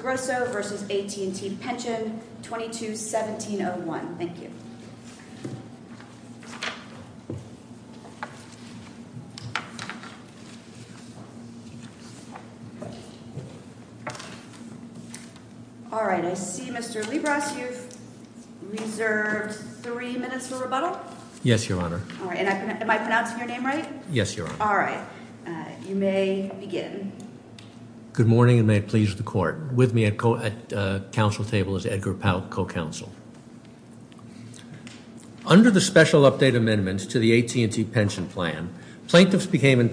Grosso v. AT&T Pension, 22-1701 Under the Special Update Amendment to the AT&T Pension Plan, plaintiffs became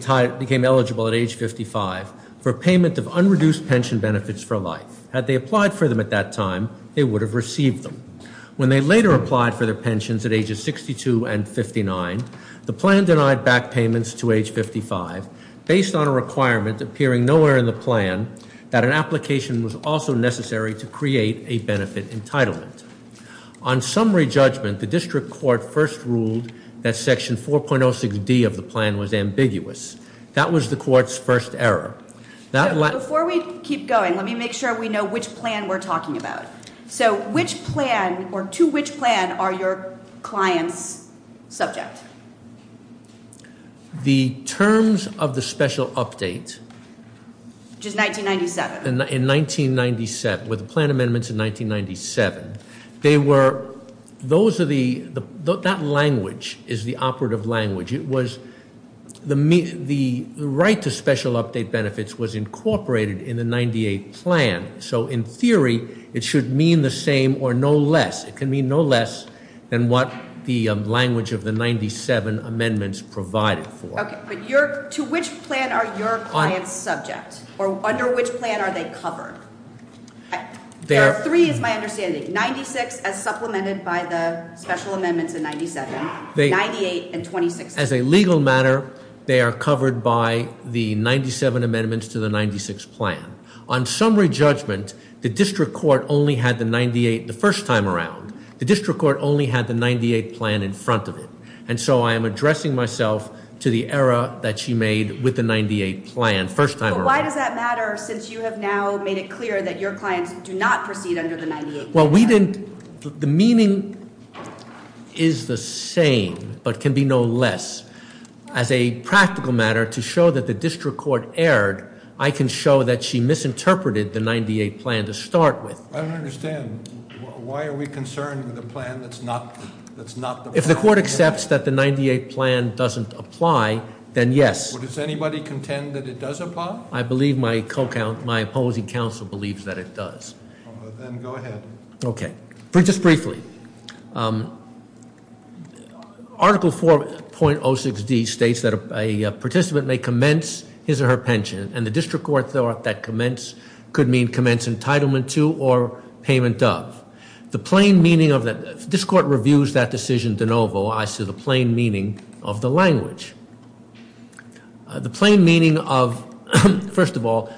eligible at age 55 for payment of unreduced pension benefits for life. Had they applied for them at that time, they would have received them. When they later applied for their pensions at ages 62 and 59, the plan denied back payments to age 55 based on a requirement appearing nowhere in the plan that an application should be made to the AT&T Pension Plan. The application was also necessary to create a benefit entitlement. On summary judgment, the district court first ruled that section 4.06D of the plan was ambiguous. That was the court's first error. That- Before we keep going, let me make sure we know which plan we're talking about. So which plan, or to which plan, are your clients subject? The terms of the special update- Which is 1997. In 1997, with the plan amendments in 1997, they were, those are the, that language is the operative language. It was, the right to special update benefits was incorporated in the 98 plan. So in theory, it should mean the same or no less. It can mean no less than what the language of the 97 amendments provided for. Okay, but to which plan are your clients subject? Or under which plan are they covered? There are three is my understanding. 96 as supplemented by the special amendments in 97, 98 and 26. As a legal matter, they are covered by the 97 amendments to the 96 plan. On summary judgment, the district court only had the 98 the first time around. The district court only had the 98 plan in front of it. And so I am addressing myself to the error that she made with the 98 plan, first time around. But why does that matter, since you have now made it clear that your clients do not proceed under the 98 plan? Well, we didn't, the meaning is the same, but can be no less. As a practical matter, to show that the district court erred, I can show that she misinterpreted the 98 plan to start with. I don't understand. Why are we concerned with a plan that's not the plan? If the court accepts that the 98 plan doesn't apply, then yes. Does anybody contend that it does apply? I believe my opposing counsel believes that it does. Then go ahead. Okay, just briefly. Article 4.06D states that a participant may commence his or her pension. And the district court thought that commence could mean commence entitlement to or payment of. The plain meaning of that, this court reviews that decision de novo as to the plain meaning of the language. The plain meaning of, first of all,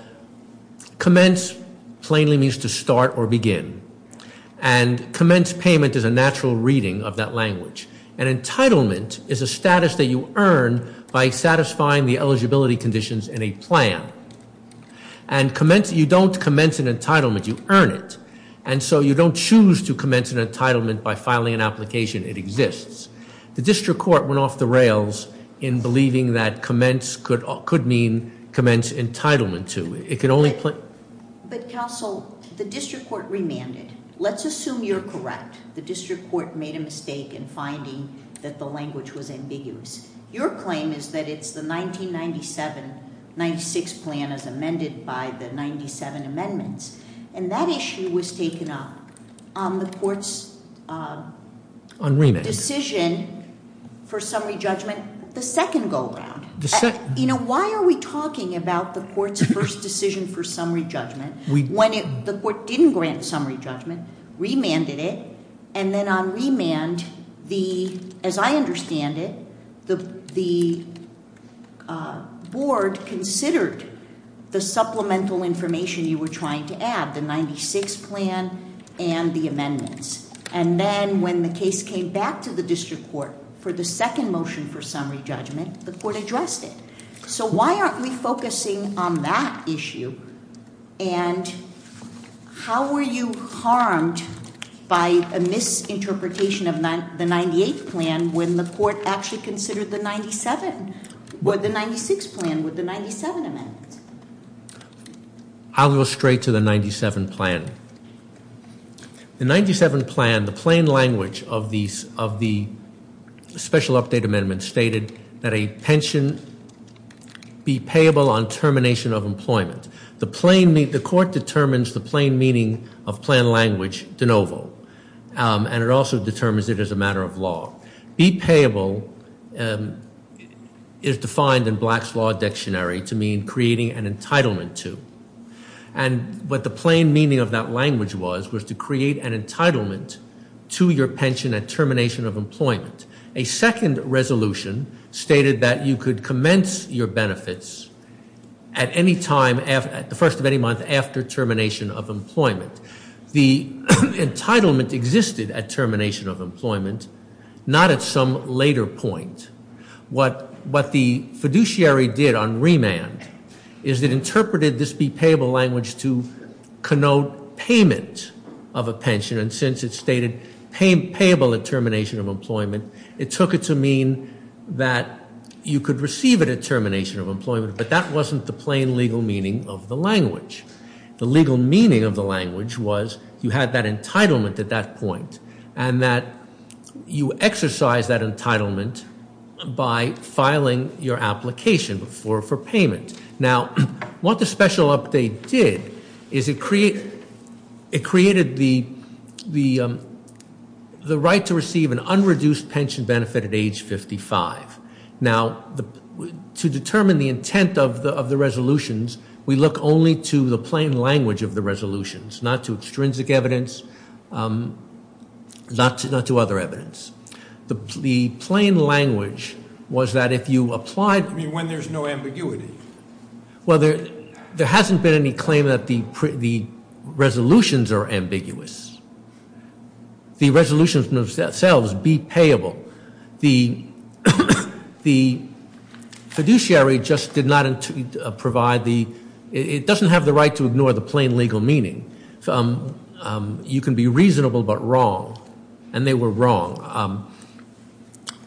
commence plainly means to start or begin. And commence payment is a natural reading of that language. And entitlement is a status that you earn by satisfying the eligibility conditions in a plan. And you don't commence an entitlement, you earn it. And so you don't choose to commence an entitlement by filing an application, it exists. The district court went off the rails in believing that commence could mean commence entitlement to. It could only- But counsel, the district court remanded. Let's assume you're correct. The district court made a mistake in finding that the language was ambiguous. Your claim is that it's the 1997-96 plan as amended by the 97 amendments. And that issue was taken up on the court's- On remand. Decision for summary judgment, the second go around. The second. Why are we talking about the court's first decision for summary judgment when the court didn't grant summary judgment, remanded it, and then on remand, as I understand it, the board considered the supplemental information you were trying to add. The 96 plan and the amendments. And then when the case came back to the district court for the second motion for summary judgment, the court addressed it. So why aren't we focusing on that issue? And how were you harmed by a misinterpretation of the 98 plan, when the court actually considered the 97, or the 96 plan with the 97 amendments? I'll go straight to the 97 plan. The 97 plan, the plain language of the special update amendment stated that a pension be payable on termination of employment. The court determines the plain meaning of plan language de novo. And it also determines it as a matter of law. Be payable is defined in Black's Law Dictionary to mean creating an entitlement to. And what the plain meaning of that language was, was to create an entitlement to your pension at termination of employment. A second resolution stated that you could commence your benefits at any time, at the first of any month after termination of employment. The entitlement existed at termination of employment, not at some later point. What the fiduciary did on remand is it interpreted this be payable language to connote payment of a pension. And since it stated payable at termination of employment, it took it to mean that you could receive it at termination of employment. But that wasn't the plain legal meaning of the language. The legal meaning of the language was, you had that entitlement at that point. And that you exercise that entitlement by filing your application for payment. Now, what the special update did is it created the right to receive an unreduced pension benefit at age 55. Now, to determine the intent of the resolutions, we look only to the plain language of the resolutions, not to extrinsic evidence, not to other evidence. The plain language was that if you applied- I mean, when there's no ambiguity. Well, there hasn't been any claim that the resolutions are ambiguous. The resolutions themselves be payable. The fiduciary just did not provide the, it doesn't have the right to ignore the plain legal meaning. You can be reasonable but wrong, and they were wrong.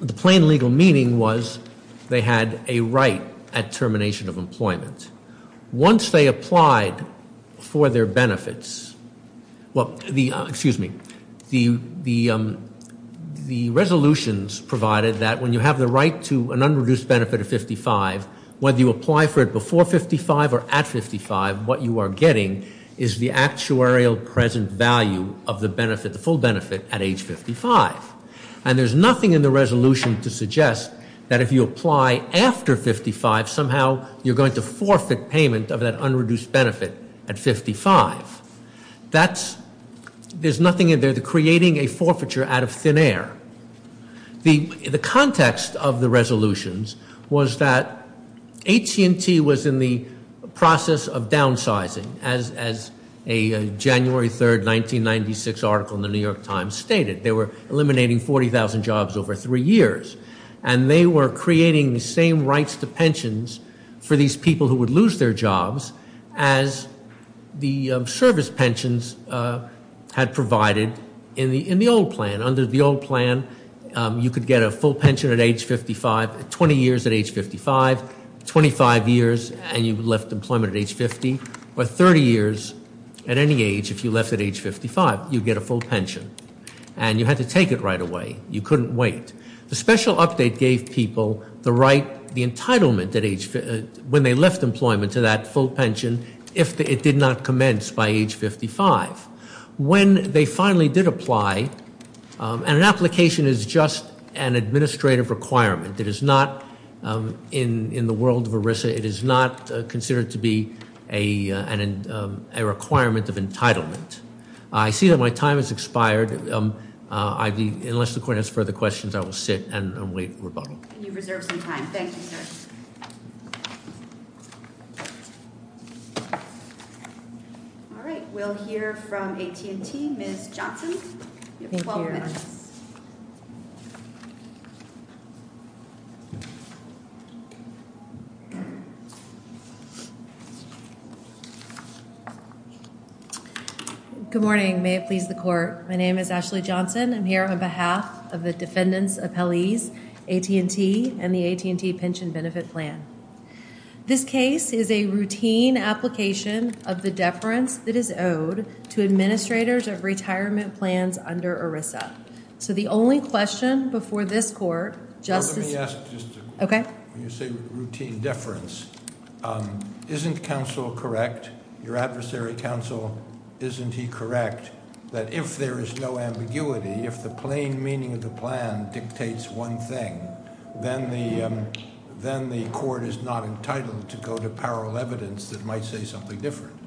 The plain legal meaning was they had a right at termination of employment. Once they applied for their benefits, well, excuse me. The resolutions provided that when you have the right to an unreduced benefit at 55, whether you apply for it before 55 or at 55, what you are getting is the actuarial present value of the benefit, the full benefit at age 55. And there's nothing in the resolution to suggest that if you apply after 55, somehow you're going to forfeit payment of that unreduced benefit at 55. That's, there's nothing in there to creating a forfeiture out of thin air. The context of the resolutions was that AT&T was in the process of downsizing, as a January 3rd, 1996 article in the New York Times stated. They were eliminating 40,000 jobs over three years. And they were creating the same rights to pensions for these people who would lose their jobs as the service pensions had provided in the old plan. Under the old plan, you could get a full pension at age 55, 20 years at age 55, 25 years and you left employment at age 50, or 30 years at any age if you left at age 55. You'd get a full pension. And you had to take it right away. You couldn't wait. The special update gave people the right, the entitlement at age, when they left employment to that full pension, if it did not commence by age 55. When they finally did apply, and an application is just an administrative requirement. It is not, in the world of ERISA, it is not considered to be a requirement of entitlement. I see that my time has expired. Unless the court has further questions, I will sit and wait for rebuttal. You've reserved some time. Thank you, sir. All right, we'll hear from AT&T, Ms. Johnson. You have 12 minutes. Good morning, may it please the court. My name is Ashley Johnson. I'm here on behalf of the defendant's appellees, AT&T, and the AT&T Pension Benefit Plan. This case is a routine application of the deference that is owed to administrators of retirement plans under ERISA. So the only question before this court, Justice- Well, let me ask just a quick one. Okay. When you say routine deference, isn't counsel correct, your adversary counsel, isn't he correct, that if there is no ambiguity, if the plain meaning of the plan dictates one thing, then the court is not entitled to go to parallel evidence that might say something different.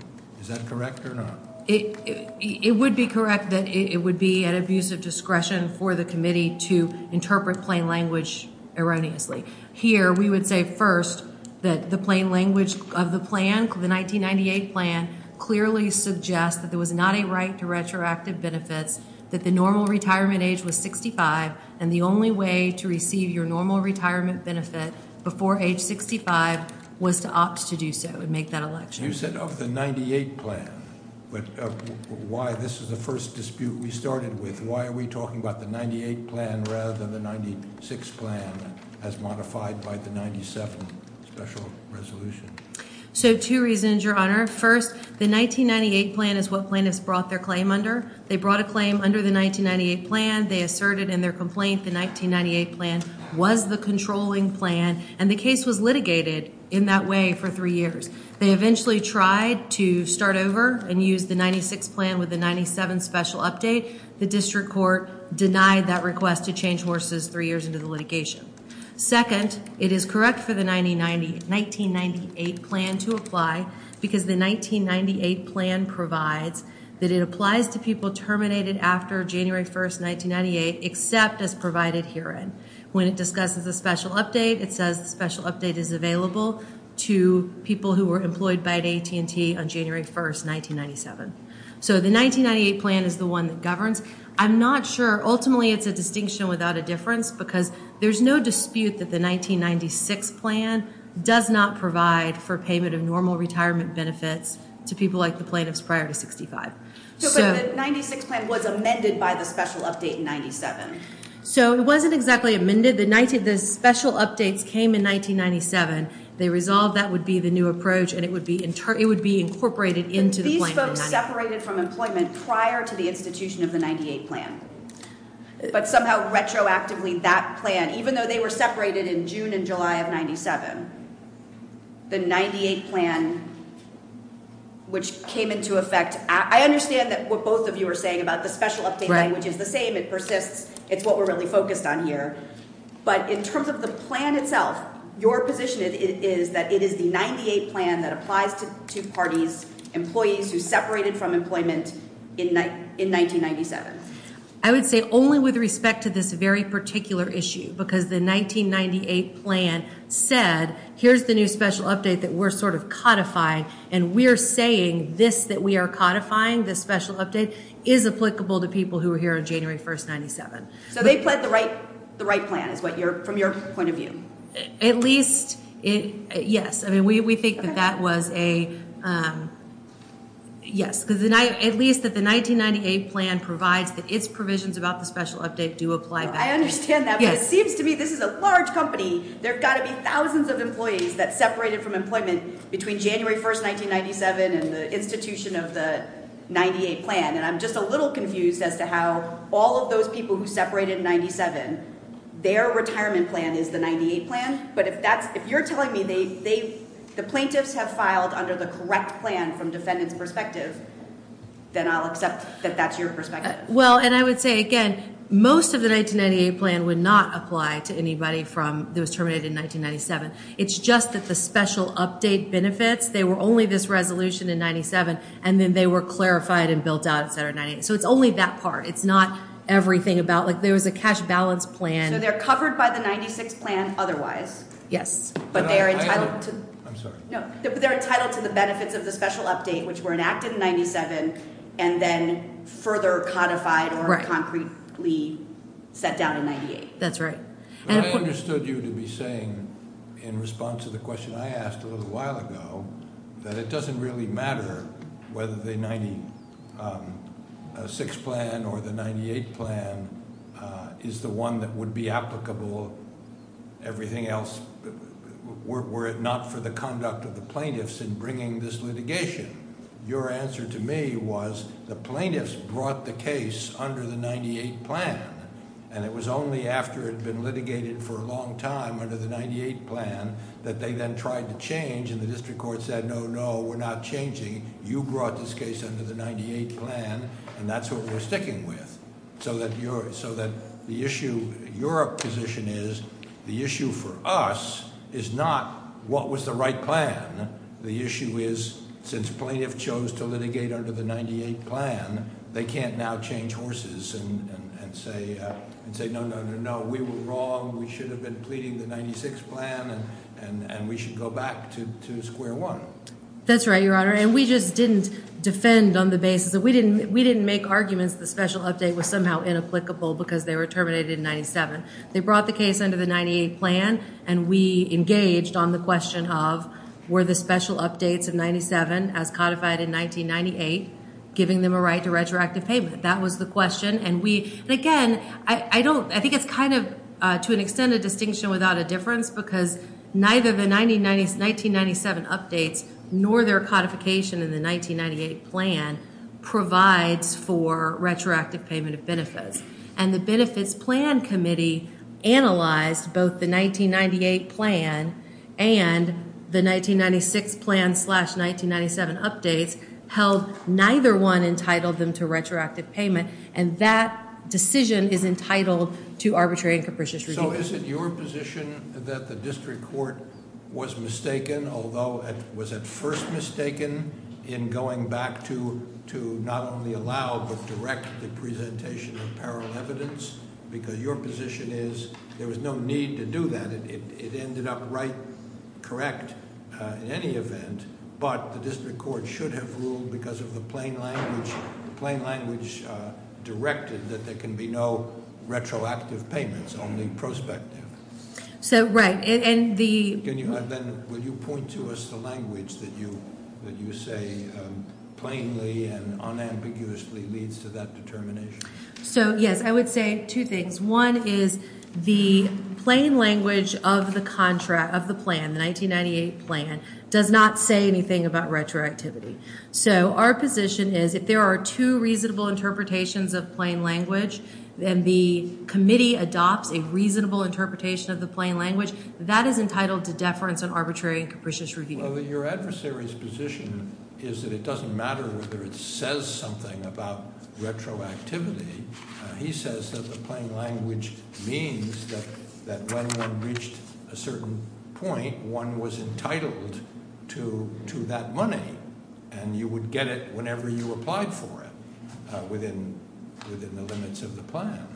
Is that correct or not? It would be correct that it would be at abuse of discretion for the committee to interpret plain language erroneously. Here, we would say first that the plain language of the plan, the 1998 plan, clearly suggests that there was not a right to retroactive benefits, that the normal retirement age was 65, and the only way to receive your normal retirement benefit before age 65 was to opt to do so and make that election. You said of the 98 plan, but why this is the first dispute we started with. And why are we talking about the 98 plan rather than the 96 plan as modified by the 97 special resolution? So two reasons, your honor. First, the 1998 plan is what plaintiffs brought their claim under. They brought a claim under the 1998 plan. They asserted in their complaint the 1998 plan was the controlling plan. And the case was litigated in that way for three years. They eventually tried to start over and use the 96 plan with the 97 special update. The district court denied that request to change horses three years into the litigation. Second, it is correct for the 1998 plan to apply because the 1998 plan provides that it applies to people terminated after January 1st, 1998, except as provided herein. When it discusses the special update, it says the special update is available to people who were employed by AT&T on January 1st, 1997. So the 1998 plan is the one that governs. I'm not sure. Ultimately, it's a distinction without a difference because there's no dispute that the 1996 plan does not provide for payment of normal retirement benefits to people like the plaintiffs prior to 65. So the 96 plan was amended by the special update in 97? So it wasn't exactly amended. The special updates came in 1997. They resolved that would be the new approach and it would be incorporated into the plan in 97. They were separated from employment prior to the institution of the 98 plan. But somehow retroactively, that plan, even though they were separated in June and July of 97, the 98 plan, which came into effect, I understand that what both of you are saying about the special update language is the same. It persists. It's what we're really focused on here. But in terms of the plan itself, your position is that it is the 98 plan that applies to two parties, employees who separated from employment in 1997? I would say only with respect to this very particular issue because the 1998 plan said here's the new special update that we're sort of codifying and we're saying this that we are codifying, this special update, is applicable to people who were here on January 1st, 97. So they pled the right plan is what you're, from your point of view? At least, yes. I mean, we think that that was a, yes, because at least that the 1998 plan provides that its provisions about the special update do apply back. I understand that, but it seems to me this is a large company. There have got to be thousands of employees that separated from employment between January 1st, 1997 and the institution of the 98 plan. And I'm just a little confused as to how all of those people who separated in 97, their retirement plan is the 98 plan. But if that's, if you're telling me they, the plaintiffs have filed under the correct plan from defendant's perspective, then I'll accept that that's your perspective. Well, and I would say again, most of the 1998 plan would not apply to anybody from those terminated in 1997. It's just that the special update benefits, they were only this resolution in 97 and then they were clarified and built out, et cetera, in 98. So it's only that part. It's not everything about, like there was a cash balance plan. So they're covered by the 96 plan otherwise. Yes. But they are entitled to. I'm sorry. No, but they're entitled to the benefits of the special update which were enacted in 97 and then further codified or concretely set down in 98. That's right. I understood you to be saying in response to the question I asked a little while ago that it doesn't really matter whether the 96 plan or the 98 plan is the one that would be applicable, everything else, were it not for the conduct of the plaintiffs in bringing this litigation. Your answer to me was the plaintiffs brought the case under the 98 plan and it was only after it had been litigated for a long time under the 98 plan that they then tried to change and the district court said, no, no, we're not changing. You brought this case under the 98 plan and that's what we're sticking with. So that the issue, your position is, the issue for us is not what was the right plan. The issue is since plaintiff chose to litigate under the 98 plan, they can't now change horses and say, no, no, no, no, we were wrong. We should have been pleading the 96 plan and we should go back to square one. That's right, Your Honor, and we just didn't defend on the basis that we didn't make arguments the special update was somehow inapplicable because they were terminated in 97. They brought the case under the 98 plan and we engaged on the question of were the special updates of 97 as codified in 1998 giving them a right to retroactive payment? That was the question and we, again, I don't, I think it's kind of to an extent a distinction without a difference because neither the 1997 updates nor their codification in the 1998 plan provides for retroactive payment of benefits and the benefits plan committee analyzed both the 1998 plan and the 1996 plan slash 1997 updates held neither one entitled them to retroactive payment and that decision is entitled to arbitrary and capricious review. So is it your position that the district court was mistaken, although it was at first mistaken in going back to not only allow but direct the presentation of parallel evidence because your position is there was no need to do that, it ended up right, correct in any event, but the district court should have ruled because of the plain language directed that there can be no retroactive payments, only prospective. So, right, and the. Can you, will you point to us the language that you say plainly and unambiguously leads to that determination? So, yes, I would say two things. One is the plain language of the contract, of the plan, the 1998 plan does not say anything about retroactivity. So our position is if there are two reasonable interpretations of plain language and the committee adopts a reasonable interpretation of the plain language, that is entitled to deference and arbitrary and capricious review. Well, your adversary's position is that it doesn't matter whether it says something about retroactivity. He says that the plain language means that when one reached a certain point, one was entitled to that money and you would get it whenever you applied for it within the limits of the plan.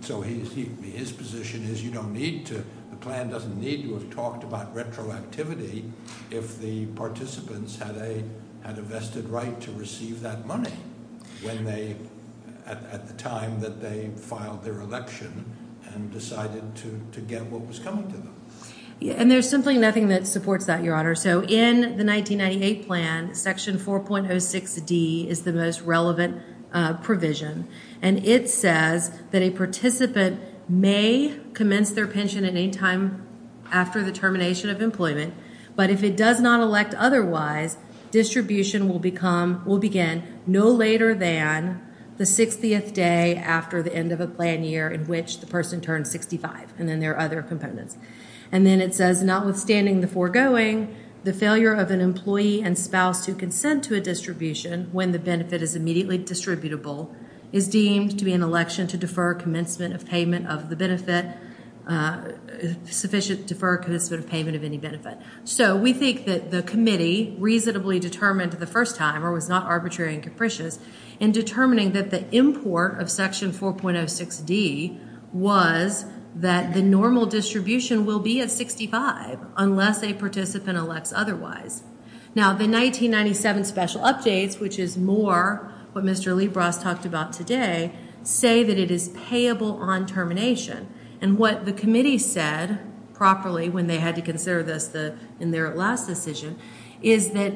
So his position is you don't need to, the plan doesn't need to have talked about retroactivity if the participants had a vested right to receive that money when they, at the time that they filed their election and decided to get what was coming to them. And there's simply nothing that supports that, your honor. So in the 1998 plan, section 4.06D is the most relevant provision. And it says that a participant may commence their pension at any time after the termination of employment, but if it does not elect otherwise, distribution will begin no later than the 60th day after the end of a plan year in which the person turned 65 and then there are other components. And then it says notwithstanding the foregoing, the failure of an employee and spouse to consent to a distribution when the benefit is immediately distributable is deemed to be an election to defer commencement of payment of the benefit, sufficient defer commencement of payment of any benefit. So we think that the committee reasonably determined the first time or was not arbitrary and capricious in determining that the import of section 4.06D was that the normal distribution will be at 65 unless a participant elects otherwise. Now, the 1997 special updates, which is more what Mr. Lee Bras talked about today, say that it is payable on termination. And what the committee said properly when they had to consider this in their last decision is that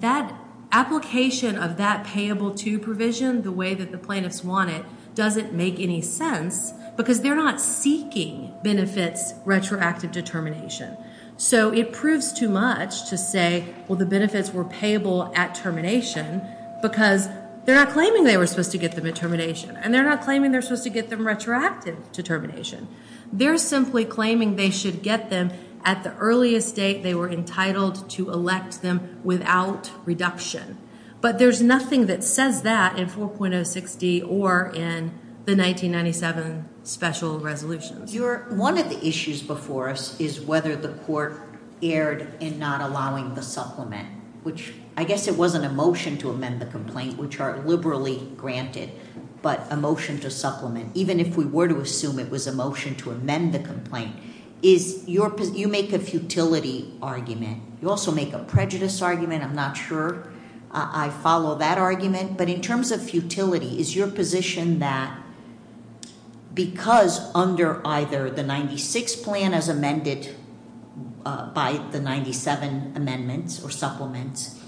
that application of that payable to provision the way that the plaintiffs want it doesn't make any sense because they're not seeking benefits retroactive determination. So it proves too much to say, well, the benefits were payable at termination because they're not claiming they were supposed to get them at termination and they're not claiming they're supposed to get them retroactive to termination. They're simply claiming they should get them at the earliest date they were entitled to elect them without reduction. But there's nothing that says that in 4.06D or in the 1997 special resolutions. One of the issues before us is whether the court erred in not allowing the supplement, which I guess it wasn't a motion to amend the complaint, which are liberally granted, but a motion to supplement, even if we were to assume it was a motion to amend the complaint, is you make a futility argument. You also make a prejudice argument. I'm not sure I follow that argument, but in terms of futility, is your position that because under either the 96 plan as amended by the 97 amendments or supplements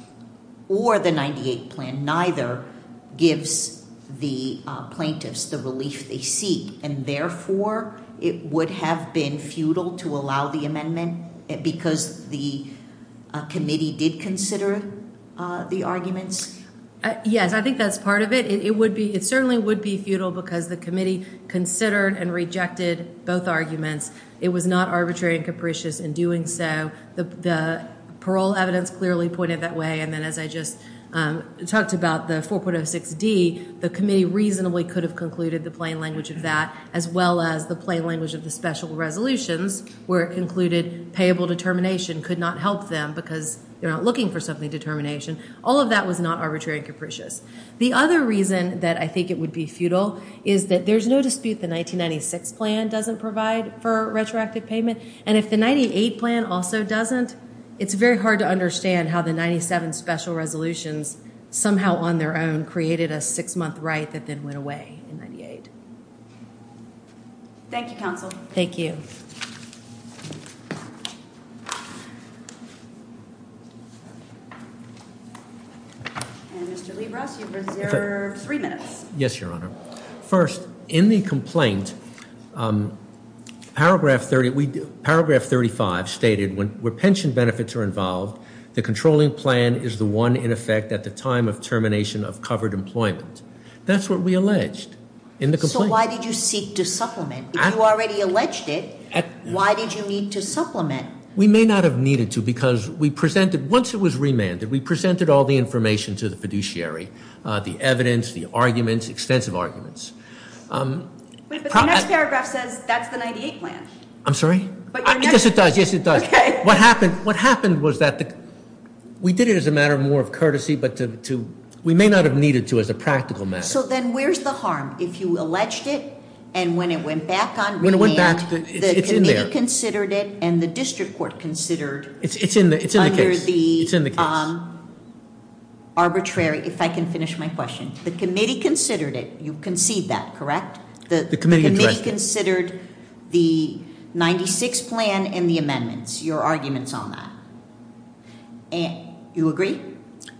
or the 98 plan, neither gives the plaintiffs the relief they seek. And therefore it would have been futile to allow the amendment because the committee did consider the arguments? Yes, I think that's part of it. It certainly would be futile because the committee considered and rejected both arguments. It was not arbitrary and capricious in doing so. The parole evidence clearly pointed that way. And then as I just talked about the 4.06D, the committee reasonably could have concluded the plain language of that, as well as the plain language of the special resolutions where it concluded payable determination could not help them because they're not looking for something determination. All of that was not arbitrary and capricious. The other reason that I think it would be futile is that there's no dispute the 1996 plan doesn't provide for retroactive payment. And if the 98 plan also doesn't, it's very hard to understand how the 97 special resolutions somehow on their own created a six month right that then went away in 98. Thank you, counsel. Thank you. And Mr. Libras, you've reserved three minutes. Yes, Your Honor. First, in the complaint, paragraph 30, paragraph 35 stated when pension benefits are involved, the controlling plan is the one in effect at the time of termination of covered employment. That's what we alleged in the complaint. So why did you seek to supplement? You already alleged it. Why did you need to supplement? We may not have needed to because we presented, once it was remanded, we presented all the information to the fiduciary, the evidence, the arguments, extensive arguments. But the next paragraph says that's the 98 plan. I'm sorry? Yes, it does. Yes, it does. What happened was that we did it as a matter of more of courtesy, but we may not have needed to as a practical matter. So then where's the harm if you alleged it and when it went back on remand, the committee considered it and the district court considered It's in the case. under the arbitrary, if I can finish my question, the committee considered it, you concede that, correct? The committee addressed it. The committee considered the 96 plan and the amendments, your arguments on that. You agree?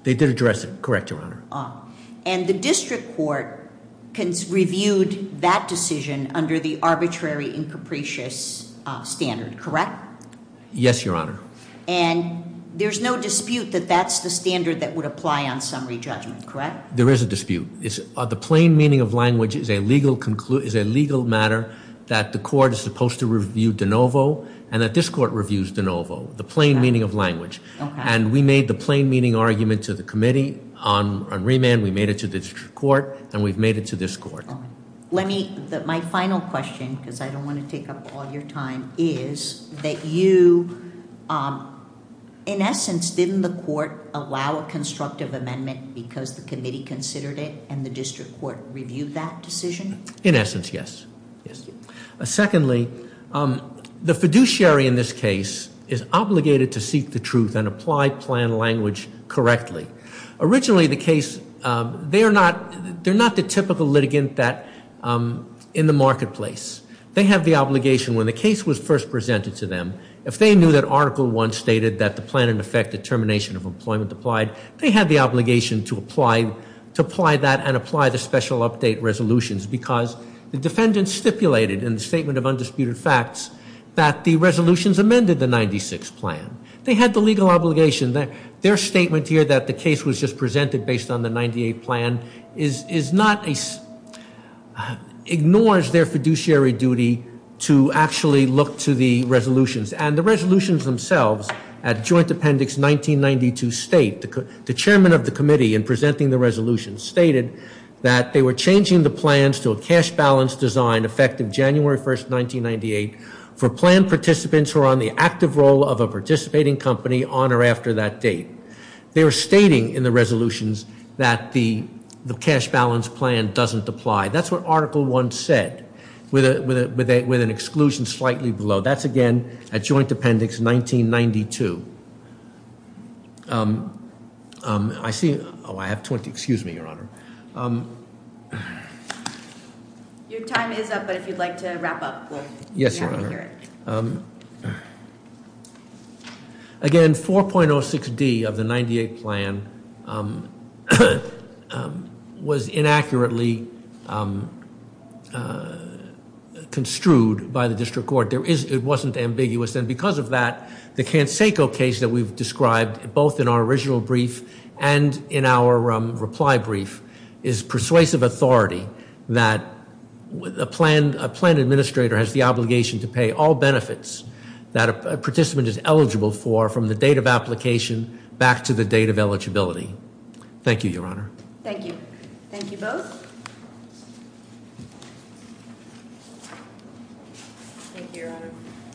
They did address it, correct, Your Honor. And the district court reviewed that decision under the arbitrary and capricious standard, correct? Yes, Your Honor. And there's no dispute that that's the standard that would apply on summary judgment, correct? There is a dispute. The plain meaning of language is a legal matter that the court is supposed to review de novo and that this court reviews de novo, the plain meaning of language. And we made the plain meaning argument to the committee on remand, we made it to the district court and we've made it to this court. Let me, my final question, because I don't want to take up all your time, is that you, in essence, didn't the court allow a constructive amendment because the committee considered it and the district court reviewed that decision? In essence, yes. Yes. Secondly, the fiduciary in this case is obligated to seek the truth and apply plan language correctly. Originally, the case, they're not the typical litigant that in the marketplace. They have the obligation when the case was first presented to them, if they knew that article one stated that the plan in effect determination of employment applied, they had the obligation to apply that and apply the special update resolutions because the defendant stipulated in the statement of undisputed facts that the resolutions amended the 96 plan. They had the legal obligation. Their statement here that the case was just presented based on the 98 plan ignores their fiduciary duty to actually look to the resolutions and the resolutions themselves at joint appendix 1992 state, the chairman of the committee in presenting the resolution stated that they were changing the plans to a cash balance design effective January 1st, 1998 for plan participants who are on the active role of a participating company on or after that date. They were stating in the resolutions that the cash balance plan doesn't apply. That's what article one said with an exclusion slightly below. That's again, at joint appendix 1992. I see, oh, I have 20, excuse me, Your Honor. Your time is up, but if you'd like to wrap up. Yes, Your Honor. Again, 4.06D of the 98 plan was inaccurately construed by the district court. It wasn't ambiguous. And because of that, the Canseco case that we've described both in our original brief and in our reply brief is persuasive authority that a plan administrator has the obligation to pay all benefits that a participant is eligible for from the date of application back to the date of eligibility. Thank you, Your Honor. Thank you. Thank you both. Thank you, Your Honor.